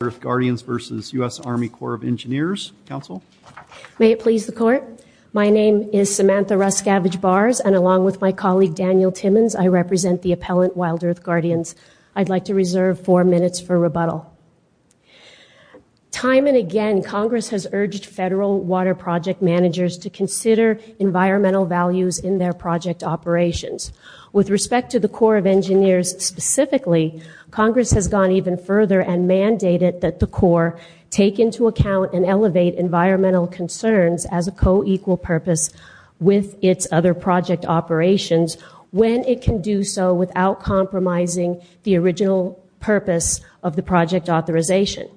May it please the Court. My name is Samantha Ruscavage-Bars and along with my colleague Daniel Timmons I represent the appellant WildEarth Guardians. I'd like to reserve four minutes for rebuttal. Time and again Congress has urged federal water project managers to consider environmental values in their project operations. With respect to the Corps of Engineers specifically, Congress has gone even further and mandated that the Corps take into account and elevate environmental concerns as a co-equal purpose with its other project operations when it can do so without compromising the original purpose of the project authorization.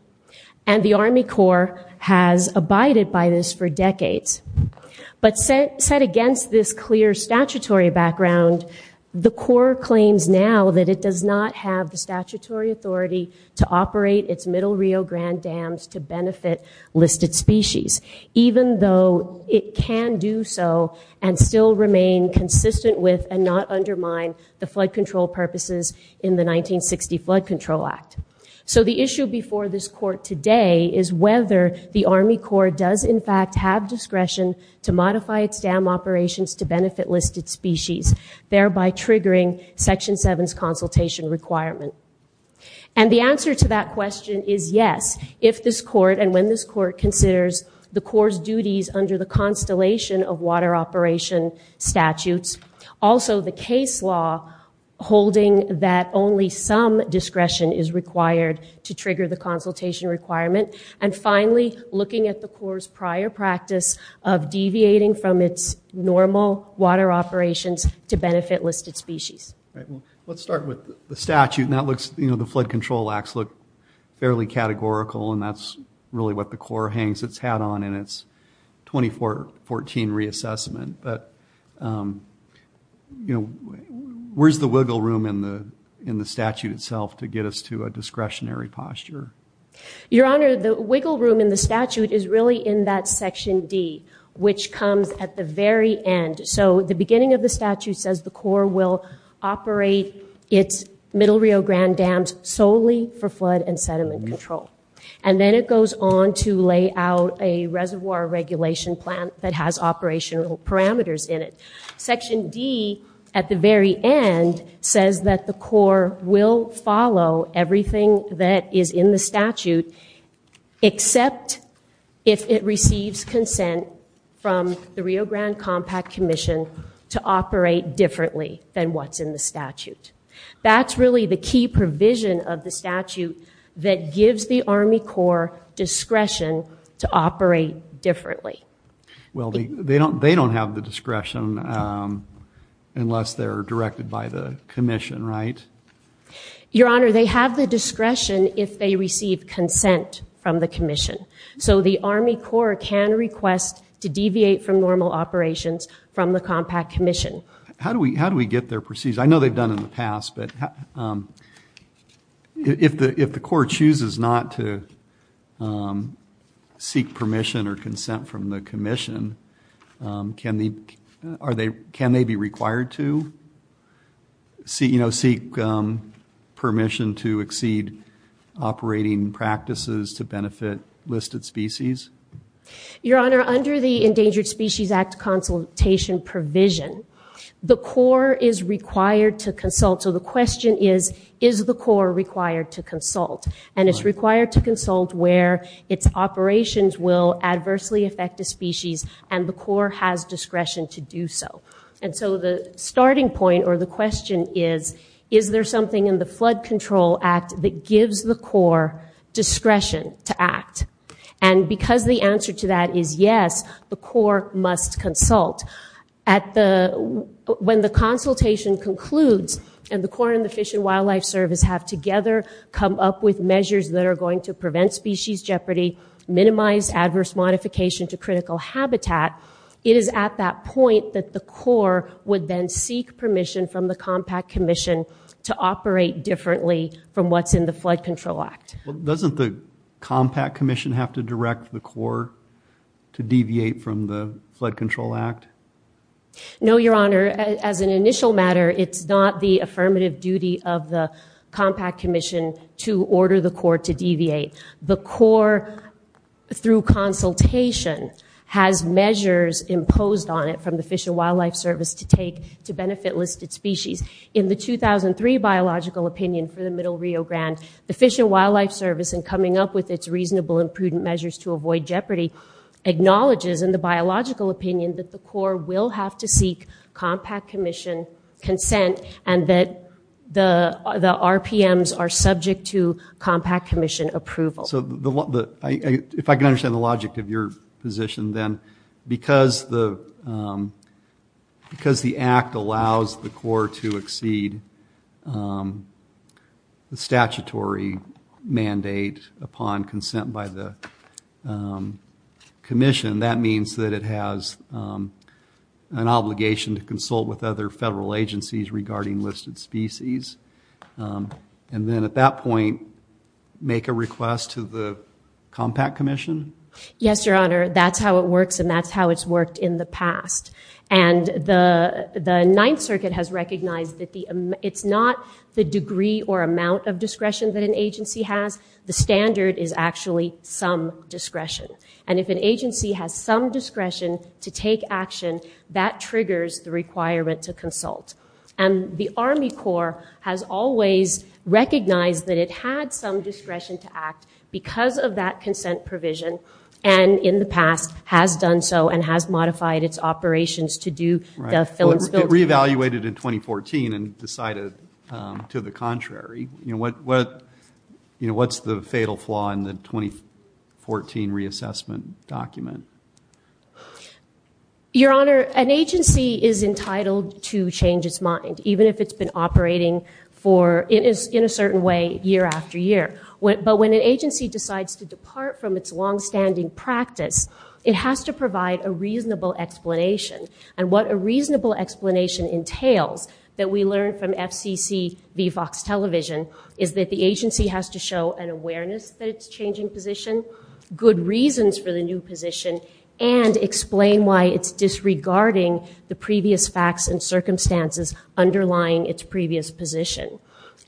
And the Army Corps has abided by this for decades. But set against this clear statutory background, the Corps claims now that it does not have the statutory authority to operate its Middle Rio Grande dams to benefit listed species, even though it can do so and still remain consistent with and not undermine the flood control purposes in the 1960 Flood Control Act. So the issue before this Court today is whether the Army Corps does in fact have discretion to modify its dam operations to benefit listed species, thereby triggering Section 7's consultation requirement. And the answer to that question is yes, if this Court and when this Court considers the Corps' duties under the Constellation of Water Operation statutes, also the case law holding that only some discretion is required to trigger the consultation requirement, and finally looking at the Corps' prior practice of deviating from its normal water operations to benefit listed species. Let's start with the statute. The Flood Control Acts look fairly categorical, and that's really what the Corps hangs its hat on in its 2014 reassessment. But where's the wiggle room in the statute itself to get us to a discretionary posture? Your Honor, the wiggle room in the statute is really in that Section D, which comes at the very end. So the beginning of the statute says the Corps will operate its Middle Rio Grande dams solely for flood and sediment control. And then it goes on to lay out a reservoir regulation plan that has operational parameters in it. Section D, at the very end, says that the Corps will follow everything that is in the statute except if it receives consent from the Rio Grande Compact Commission to operate differently than what's in the statute. That's really the key provision of the statute that gives the Army Corps discretion to operate differently. Well, they don't have the discretion unless they're directed by the Commission, right? Your Honor, they have the discretion if they receive consent from the Commission. So the Army Corps can request to deviate from normal operations from the Compact Commission. How do we get their permission? I know they've done it in the past, but if the Corps chooses not to seek permission or consent from the Commission, can they be required to seek permission to exceed operating practices to benefit listed species? Your Honor, under the Endangered Species Act consultation provision, the Corps is required to consult. So the question is, is the Corps required to consult? And it's required to consult where its operations will adversely affect a species and the Corps has discretion to do so. And so the starting point or the question is, is there something in the Flood Control Act that gives the Corps discretion to act? And because the answer to that is yes, the Corps must consult. When the consultation concludes and the Corps and the Fish and Wildlife Service have together come up with measures that are going to prevent species jeopardy, minimize adverse modification to critical habitat, it is at that point that the Corps would then seek permission from the Compact Commission to operate differently from what's in the Flood Control Act. Well, doesn't the Compact Commission have to direct the Corps to deviate from the Flood Control Act? No, Your Honor. As an initial matter, it's not the affirmative duty of the Compact Commission to order the Corps to deviate. The Corps, through consultation, has measures imposed on it from the Fish and Wildlife Service to take to benefit listed species. In the 2003 biological opinion for the Middle Rio Grande, the Fish and Wildlife Service, in coming up with its reasonable and prudent measures to avoid jeopardy, acknowledges in the biological opinion that the Corps will have to seek Compact Commission consent and that the RPMs are subject to Compact Commission approval. If I can understand the logic of your position, then, because the Act allows the Corps to exceed the statutory mandate upon consent by the Commission, that means that it has an obligation to consult with other federal agencies regarding listed species. And then, at that point, make a request to the Compact Commission? Yes, Your Honor. That's how it works and that's how it's worked in the past. And the Ninth Circuit has recognized that it's not the degree or amount of discretion that an agency has, the standard is actually some discretion. And if an agency has some discretion to take action, that triggers the requirement to consult. And the Army Corps has always recognized that it had some discretion to act because of that consent provision and, in the past, has done so and has modified its operations to do that. It re-evaluated in 2014 and decided to the contrary. What's the fatal flaw in the 2014 reassessment document? Your Honor, an agency is entitled to change its mind, even if it's been operating in a certain way year after year. But when an agency decides to depart from its longstanding practice, it has to provide a reasonable explanation. And what a reasonable explanation entails that we learned from FCC v. Fox Television is that the agency has to show an awareness that it's changing position, good reasons for the new position, and explain why it's disregarding the previous facts and circumstances underlying its previous position.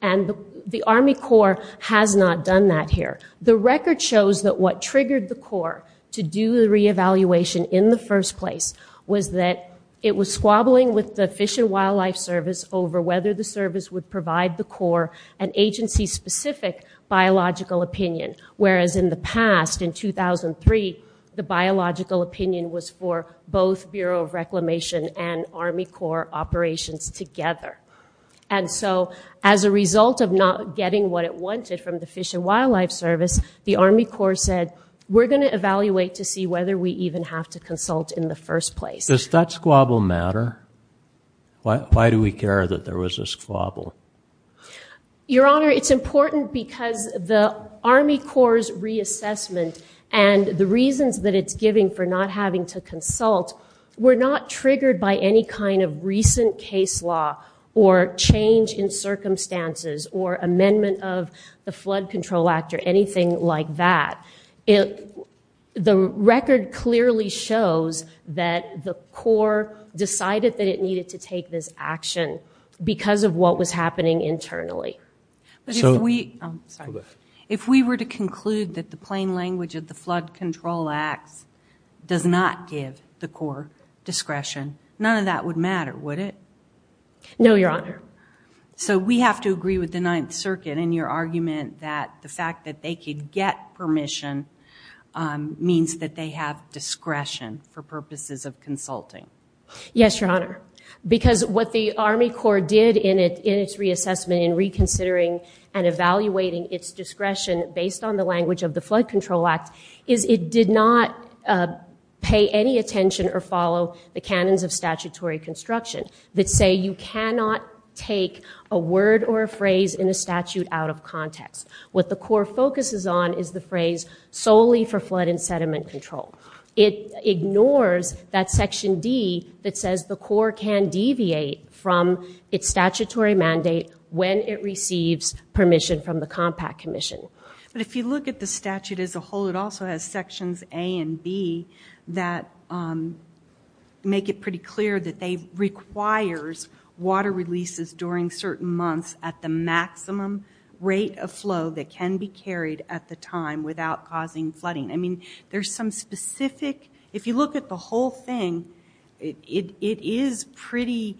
And the Army Corps has not done that here. The record shows that what triggered the Corps to do the re-evaluation in the first place was that it was squabbling with the Fish and Wildlife Service over whether the service would provide the Corps an agency-specific biological opinion. Whereas in the past, in 2003, the biological opinion was for both Bureau of Reclamation and Army Corps operations together. And so as a result of not getting what it wanted from the Fish and Wildlife Service, the Army Corps said, we're going to evaluate to see whether we even have to consult in the first place. Does that squabble matter? Why do we care that there was a squabble? Your Honor, it's important because the Army Corps' reassessment and the reasons that it's giving for not having to consult were not triggered by any kind of recent case law or change in circumstances or amendment of the Flood Control Act or anything like that. The record clearly shows that the Corps decided that it needed to take this action because of what was happening internally. If we were to conclude that the plain language of the Flood Control Act does not give the Corps discretion, none of that would matter, would it? No, Your Honor. So we have to agree with the Ninth Circuit in your argument that the fact that they could get permission means that they have discretion for purposes of consulting? Yes, Your Honor, because what the Army Corps did in its reassessment in reconsidering and evaluating its discretion based on the language of the Flood Control Act is it did not pay any attention or follow the canons of statutory construction that say you cannot take a word or a phrase in a statute out of context. What the Corps focuses on is the phrase solely for flood and sediment control. It ignores that Section D that says the Corps can deviate from its statutory mandate when it receives permission from the Compact Commission. But if you look at the statute as a whole, it also has Sections A and B that make it pretty clear that they require water releases during certain months at the maximum rate of flow that can be carried at the time without causing flooding. I mean, there's some specific, if you look at the whole thing, it is pretty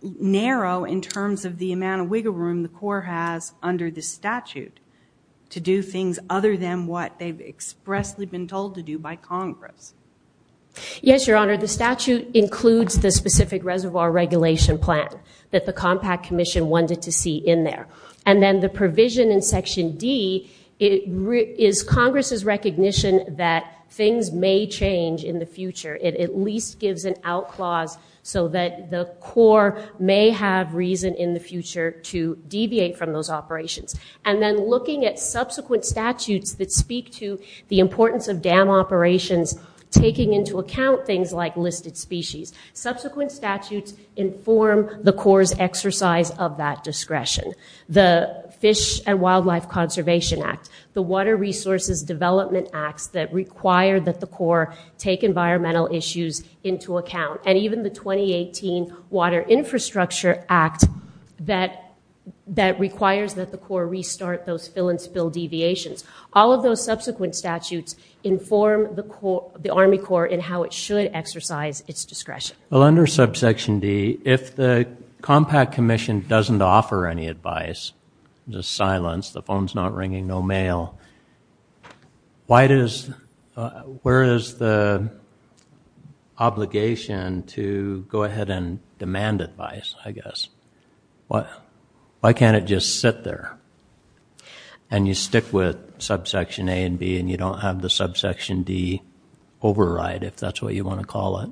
narrow in terms of the amount of wiggle room the Corps has under the statute to do things other than what they've expressly been told to do by Congress. Yes, Your Honor, the statute includes the specific reservoir regulation plan that the Compact Commission wanted to see in there. And then the provision in Section D is Congress's recognition that things may change in the future. It at least gives an out clause so that the Corps may have reason in the future to deviate from those operations. And then looking at subsequent statutes that speak to the importance of dam operations, taking into account things like listed species, subsequent statutes inform the Corps' exercise of that discretion. The Fish and Wildlife Conservation Act, the Water Resources Development Acts that require that the Corps take environmental issues into account, and even the 2018 Water Infrastructure Act that requires that the Corps restart those fill-and-spill deviations. All of those subsequent statutes inform the Army Corps in how it should exercise its discretion. Well, under subsection D, if the Compact Commission doesn't offer any advice, just silence, the phone's not ringing, no mail, where is the obligation to go ahead and demand advice, I guess? Why can't it just sit there? And you stick with subsection A and B and you don't have the subsection D override, if that's what you want to call it.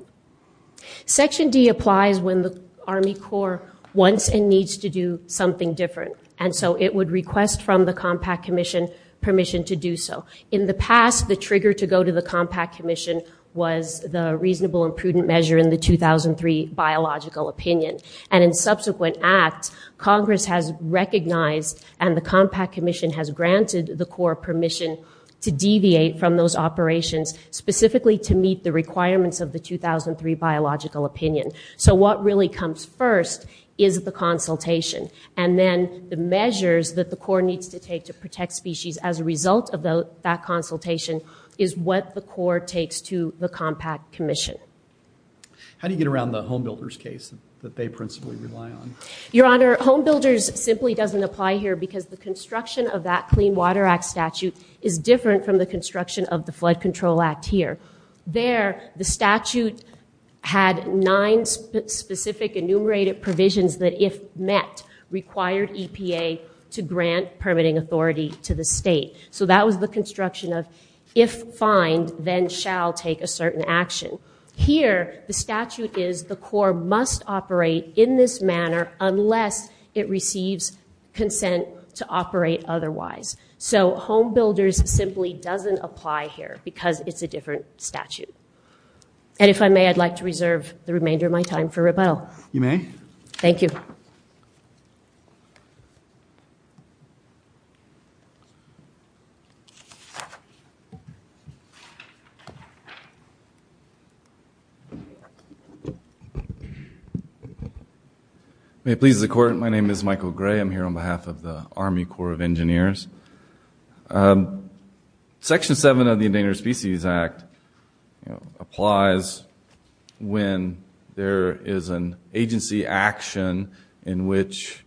Section D applies when the Army Corps wants and needs to do something different. And so it would request from the Compact Commission permission to do so. In the past, the trigger to go to the Compact Commission was the reasonable and prudent measure in the 2003 Biological Opinion. And in subsequent acts, Congress has recognized and the Compact Commission has granted the Corps permission to deviate from those operations, specifically to meet the requirements of the 2003 Biological Opinion. So what really comes first is the consultation. And then the measures that the Corps needs to take to protect species as a result of that consultation is what the Corps takes to the Compact Commission. How do you get around the Home Builders case that they principally rely on? Your Honor, Home Builders simply doesn't apply here because the construction of that Clean Water Act statute is different from the construction of the Flood Control Act here. There, the statute had nine specific enumerated provisions that, if met, required EPA to grant permitting authority to the state. So that was the construction of, if fined, then shall take a certain action. Here, the statute is the Corps must operate in this manner unless it receives consent to operate otherwise. So Home Builders simply doesn't apply here because it's a different statute. And if I may, I'd like to reserve the remainder of my time for rebuttal. You may. Thank you. May it please the Court. My name is Michael Gray. I'm here on behalf of the Army Corps of Engineers. Section 7 of the Endangered Species Act applies when there is an agency action in which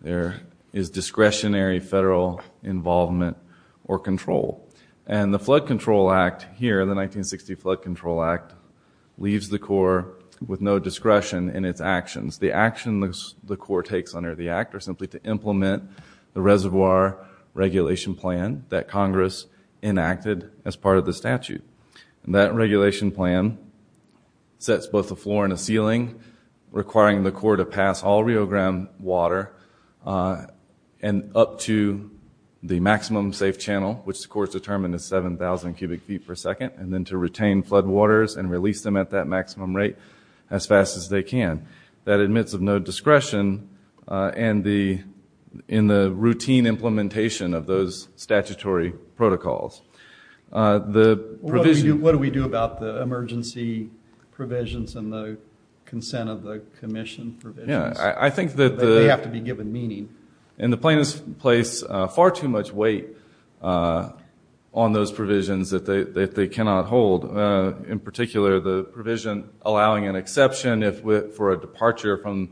there is discretionary federal involvement or control. And the Flood Control Act here, the 1960 Flood Control Act, leaves the Corps with no discretion in its actions. The action the Corps takes under the act are simply to implement the reservoir regulation plan that Congress enacted as part of the statute. And that regulation plan sets both the floor and the ceiling, requiring the Corps to pass all Rio Grande water up to the maximum safe channel, which the Corps determined is 7,000 cubic feet per second, and then to retain floodwaters and release them at that maximum rate as fast as they can. That admits of no discretion in the routine implementation of those statutory protocols. What do we do about the emergency provisions and the consent of the commission provisions? I think that they have to be given meaning. And the plaintiffs place far too much weight on those provisions that they cannot hold, in particular the provision allowing an exception for a departure from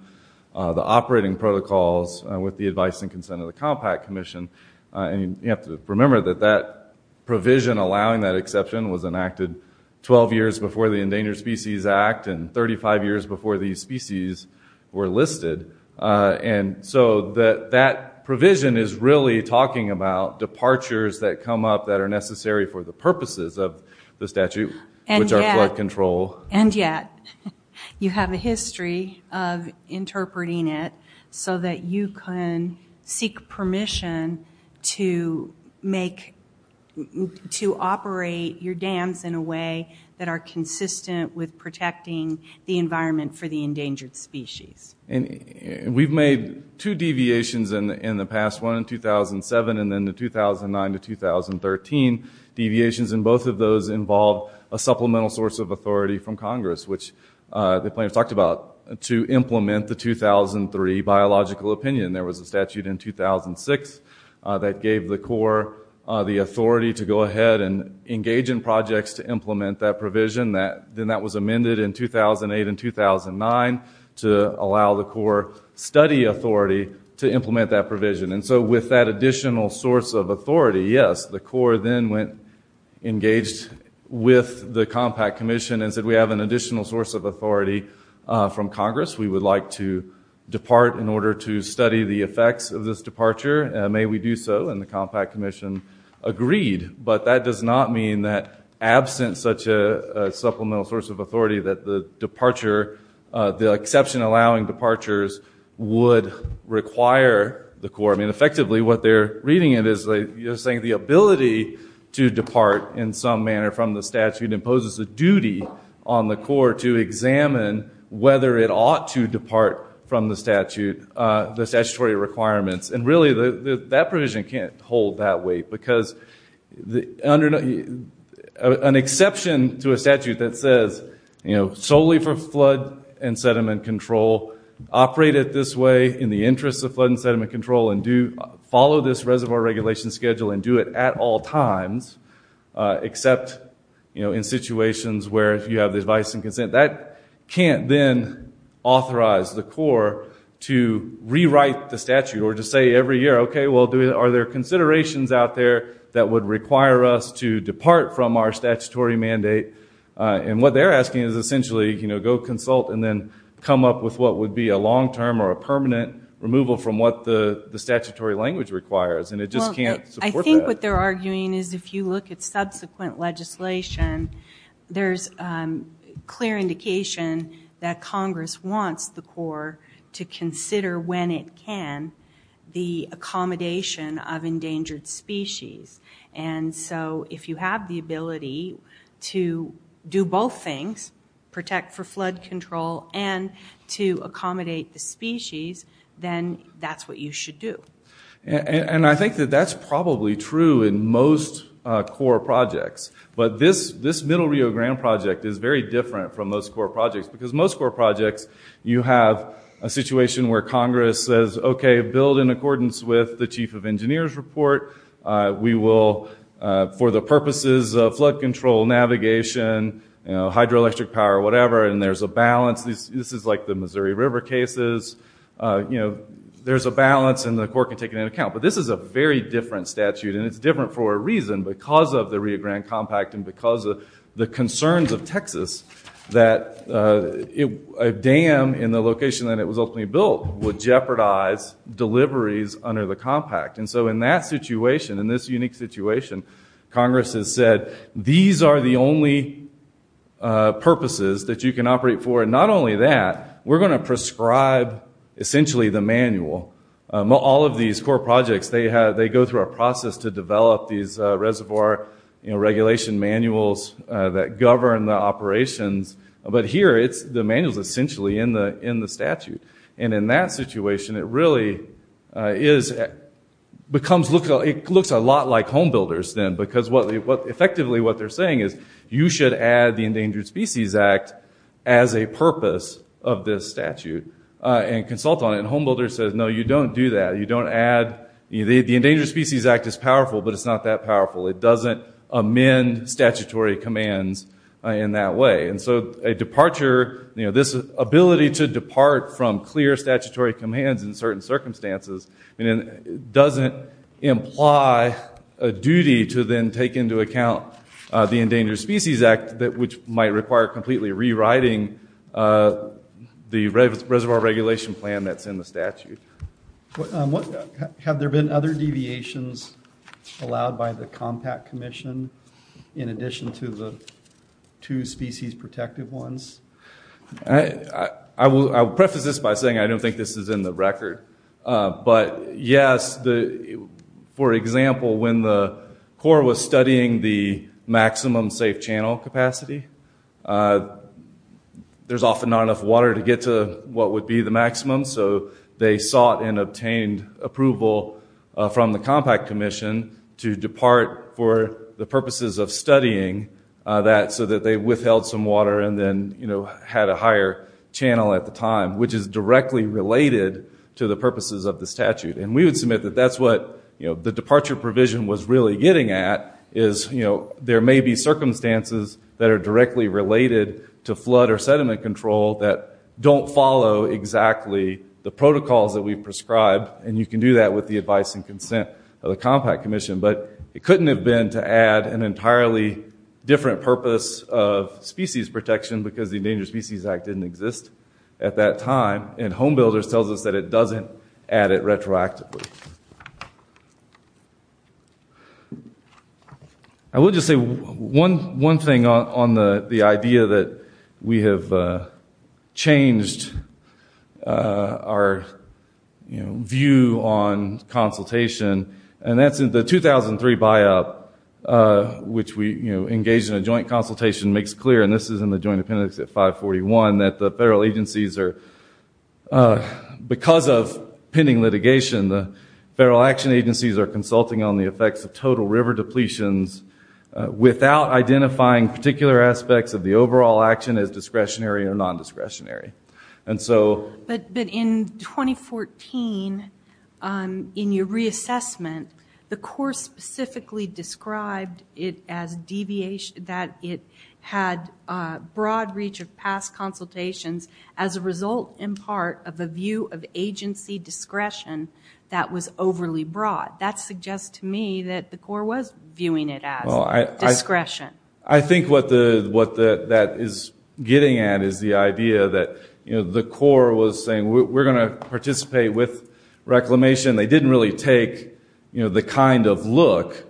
the operating protocols with the advice and consent of the Compact Commission. And you have to remember that that provision allowing that exception was enacted 12 years before the Endangered Species Act and 35 years before these species were listed. And so that provision is really talking about departures that come up that are necessary for the purposes of the statute, which are flood control. And yet, you have a history of interpreting it so that you can seek permission to operate your dams in a way that are consistent with protecting the environment for the endangered species. We've made two deviations in the past, one in 2007 and then the 2009 to 2013 deviations. And both of those involve a supplemental source of authority from Congress, which the plaintiffs talked about, to implement the 2003 biological opinion. There was a statute in 2006 that gave the Corps the authority to go ahead and engage in projects to implement that provision. Then that was amended in 2008 and 2009 to allow the Corps study authority to implement that provision. And so with that additional source of authority, yes, the Corps then went engaged with the Compact Commission and said we have an additional source of authority from Congress. We would like to depart in order to study the effects of this departure. May we do so? And the Compact Commission agreed. But that does not mean that absent such a supplemental source of authority, that the exception allowing departures would require the Corps. I mean, effectively, what they're reading it as is saying the ability to depart in some manner from the statute imposes a duty on the Corps to examine whether it ought to depart from the statutory requirements. And really, that provision can't hold that weight because an exception to a statute that says solely for flood and sediment control, operate it this way in the interests of flood and sediment control, and follow this reservoir regulation schedule and do it at all times except in situations where you have the advice and consent, that can't then authorize the Corps to rewrite the statute or to say every year, okay, well, are there considerations out there that would require us to depart from our statutory mandate? And what they're asking is essentially, you know, go consult and then come up with what would be a long-term or a permanent removal from what the statutory language requires. And it just can't support that. I think what they're arguing is if you look at subsequent legislation, there's clear indication that Congress wants the Corps to consider when it can the accommodation of endangered species. And so if you have the ability to do both things, protect for flood control and to accommodate the species, then that's what you should do. And I think that that's probably true in most Corps projects. But this Middle Rio Grande project is very different from most Corps projects because most Corps projects you have a situation where Congress says, okay, build in accordance with the Chief of Engineers report. We will, for the purposes of flood control, navigation, hydroelectric power, whatever, and there's a balance. This is like the Missouri River cases. There's a balance, and the Corps can take it into account. But this is a very different statute, and it's different for a reason. Because of the Rio Grande Compact and because of the concerns of Texas, that a dam in the location that it was ultimately built would jeopardize deliveries under the compact. And so in that situation, in this unique situation, Congress has said, these are the only purposes that you can operate for. And not only that, we're going to prescribe, essentially, the manual. All of these Corps projects, they go through a process to develop these reservoir regulation manuals that govern the operations. But here, the manual is essentially in the statute. And in that situation, it really looks a lot like home builders then. Because effectively, what they're saying is, you should add the Endangered Species Act as a purpose of this statute and consult on it. And home builders says, no, you don't do that. The Endangered Species Act is powerful, but it's not that powerful. It doesn't amend statutory commands in that way. And so this ability to depart from clear statutory commands in certain circumstances doesn't imply a duty to then take into account the Endangered Species Act, which might require completely rewriting the reservoir regulation plan that's in the statute. Have there been other deviations allowed by the Compact Commission in addition to the two species protective ones? I will preface this by saying I don't think this is in the record. But, yes, for example, when the Corps was studying the maximum safe channel capacity, there's often not enough water to get to what would be the maximum. So they sought and obtained approval from the Compact Commission to depart for the purposes of studying that, so that they withheld some water and then had a higher channel at the time, which is directly related to the purposes of the statute. And we would submit that that's what the departure provision was really getting at, is there may be circumstances that are directly related to flood or sediment control that don't follow exactly the protocols that we've prescribed. And you can do that with the advice and consent of the Compact Commission. But it couldn't have been to add an entirely different purpose of species protection because the Endangered Species Act didn't exist at that time. And Home Builders tells us that it doesn't add it retroactively. I will just say one thing on the idea that we have changed our view on consultation, and that's in the 2003 buy-up, which we engaged in a joint consultation, makes clear, and this is in the joint appendix at 541, that the federal agencies are, because of pending litigation, the federal action agencies are consulting on the effects of total river depletions without identifying particular aspects of the overall action as discretionary or nondiscretionary. But in 2014, in your reassessment, the Corps specifically described that it had broad reach of past consultations as a result, in part, of a view of agency discretion that was overly broad. That suggests to me that the Corps was viewing it as discretion. I think what that is getting at is the idea that the Corps was saying, we're going to participate with reclamation. They didn't really take the kind of look,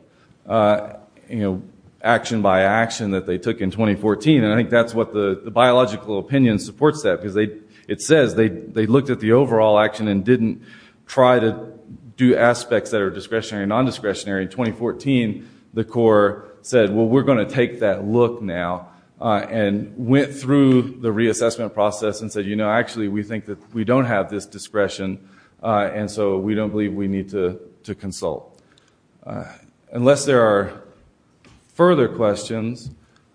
action by action, that they took in 2014. And I think that's what the biological opinion supports that because it says they looked at the overall action and didn't try to do aspects that are discretionary or nondiscretionary. In 2014, the Corps said, well, we're going to take that look now and went through the reassessment process and said, you know, actually we think that we don't have this discretion and so we don't believe we need to consult. Unless there are further questions,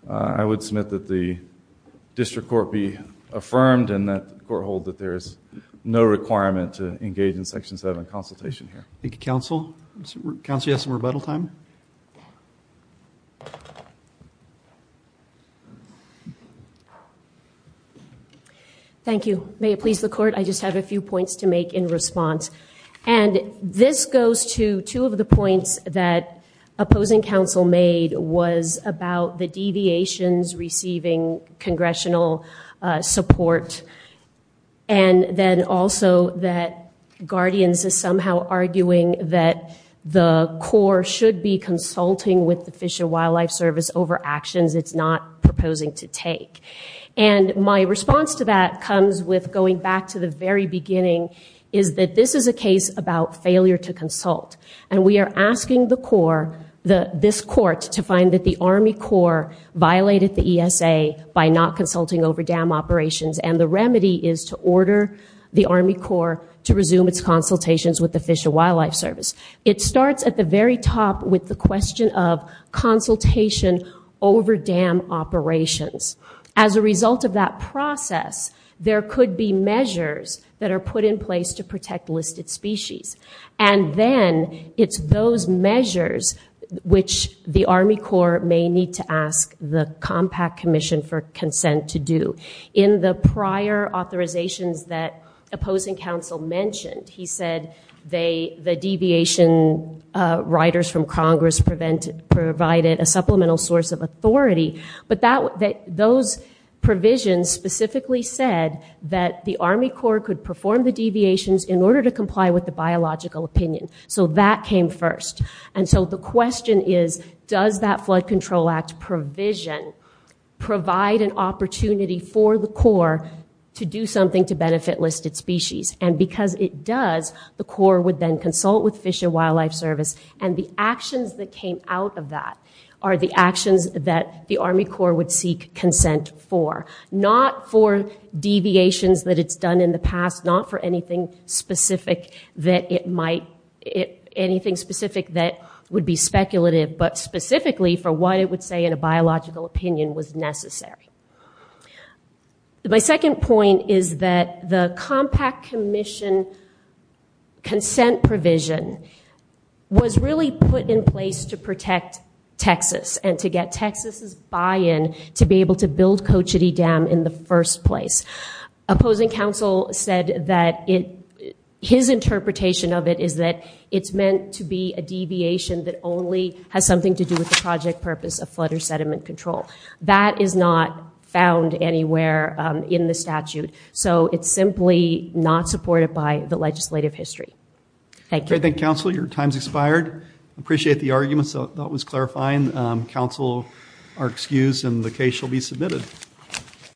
I would submit that the district court be affirmed and that the court hold that there is no requirement to engage in Section 7 consultation here. Thank you, counsel. Counsel, you have some rebuttal time? Thank you. May it please the court, I just have a few points to make in response. And this goes to two of the points that opposing counsel made was about the deviations receiving congressional support and then also that Guardians is somehow arguing that the Corps should be consulting with the Fish and Wildlife Service over actions it's not proposing to take. And my response to that comes with going back to the very beginning, is that this is a case about failure to consult. And we are asking the Corps, this court, to find that the Army Corps violated the ESA by not consulting over dam operations. And the remedy is to order the Army Corps to resume its consultations with the Fish and Wildlife Service. It starts at the very top with the question of consultation over dam operations. As a result of that process, there could be measures that are put in place to protect listed species. And then it's those measures which the Army Corps may need to ask the Compact Commission for consent to do. In the prior authorizations that opposing counsel mentioned, he said the deviation riders from Congress provided a supplemental source of authority. But those provisions specifically said that the Army Corps could perform the deviations in order to comply with the biological opinion. So that came first. And so the question is, does that Flood Control Act provision provide an opportunity for the Corps to do something to benefit listed species? And because it does, the Corps would then consult with Fish and Wildlife Service. And the actions that came out of that are the actions that the Army Corps would seek consent for. Not for deviations that it's done in the past, not for anything specific that it might, anything specific that would be speculative, but specifically for what it would say in a biological opinion was necessary. My second point is that the Compact Commission consent provision was really put in place to protect Texas and to get Texas' buy-in to be able to build Cochiti Dam in the first place. Opposing counsel said that his interpretation of it is that it's meant to be a deviation that only has something to do with the project purpose of flood or sediment control. That is not found anywhere in the statute. So it's simply not supported by the legislative history. Thank you. Thank you, counsel. Your time's expired. I appreciate the arguments. That was clarifying. Counsel are excused and the case shall be submitted.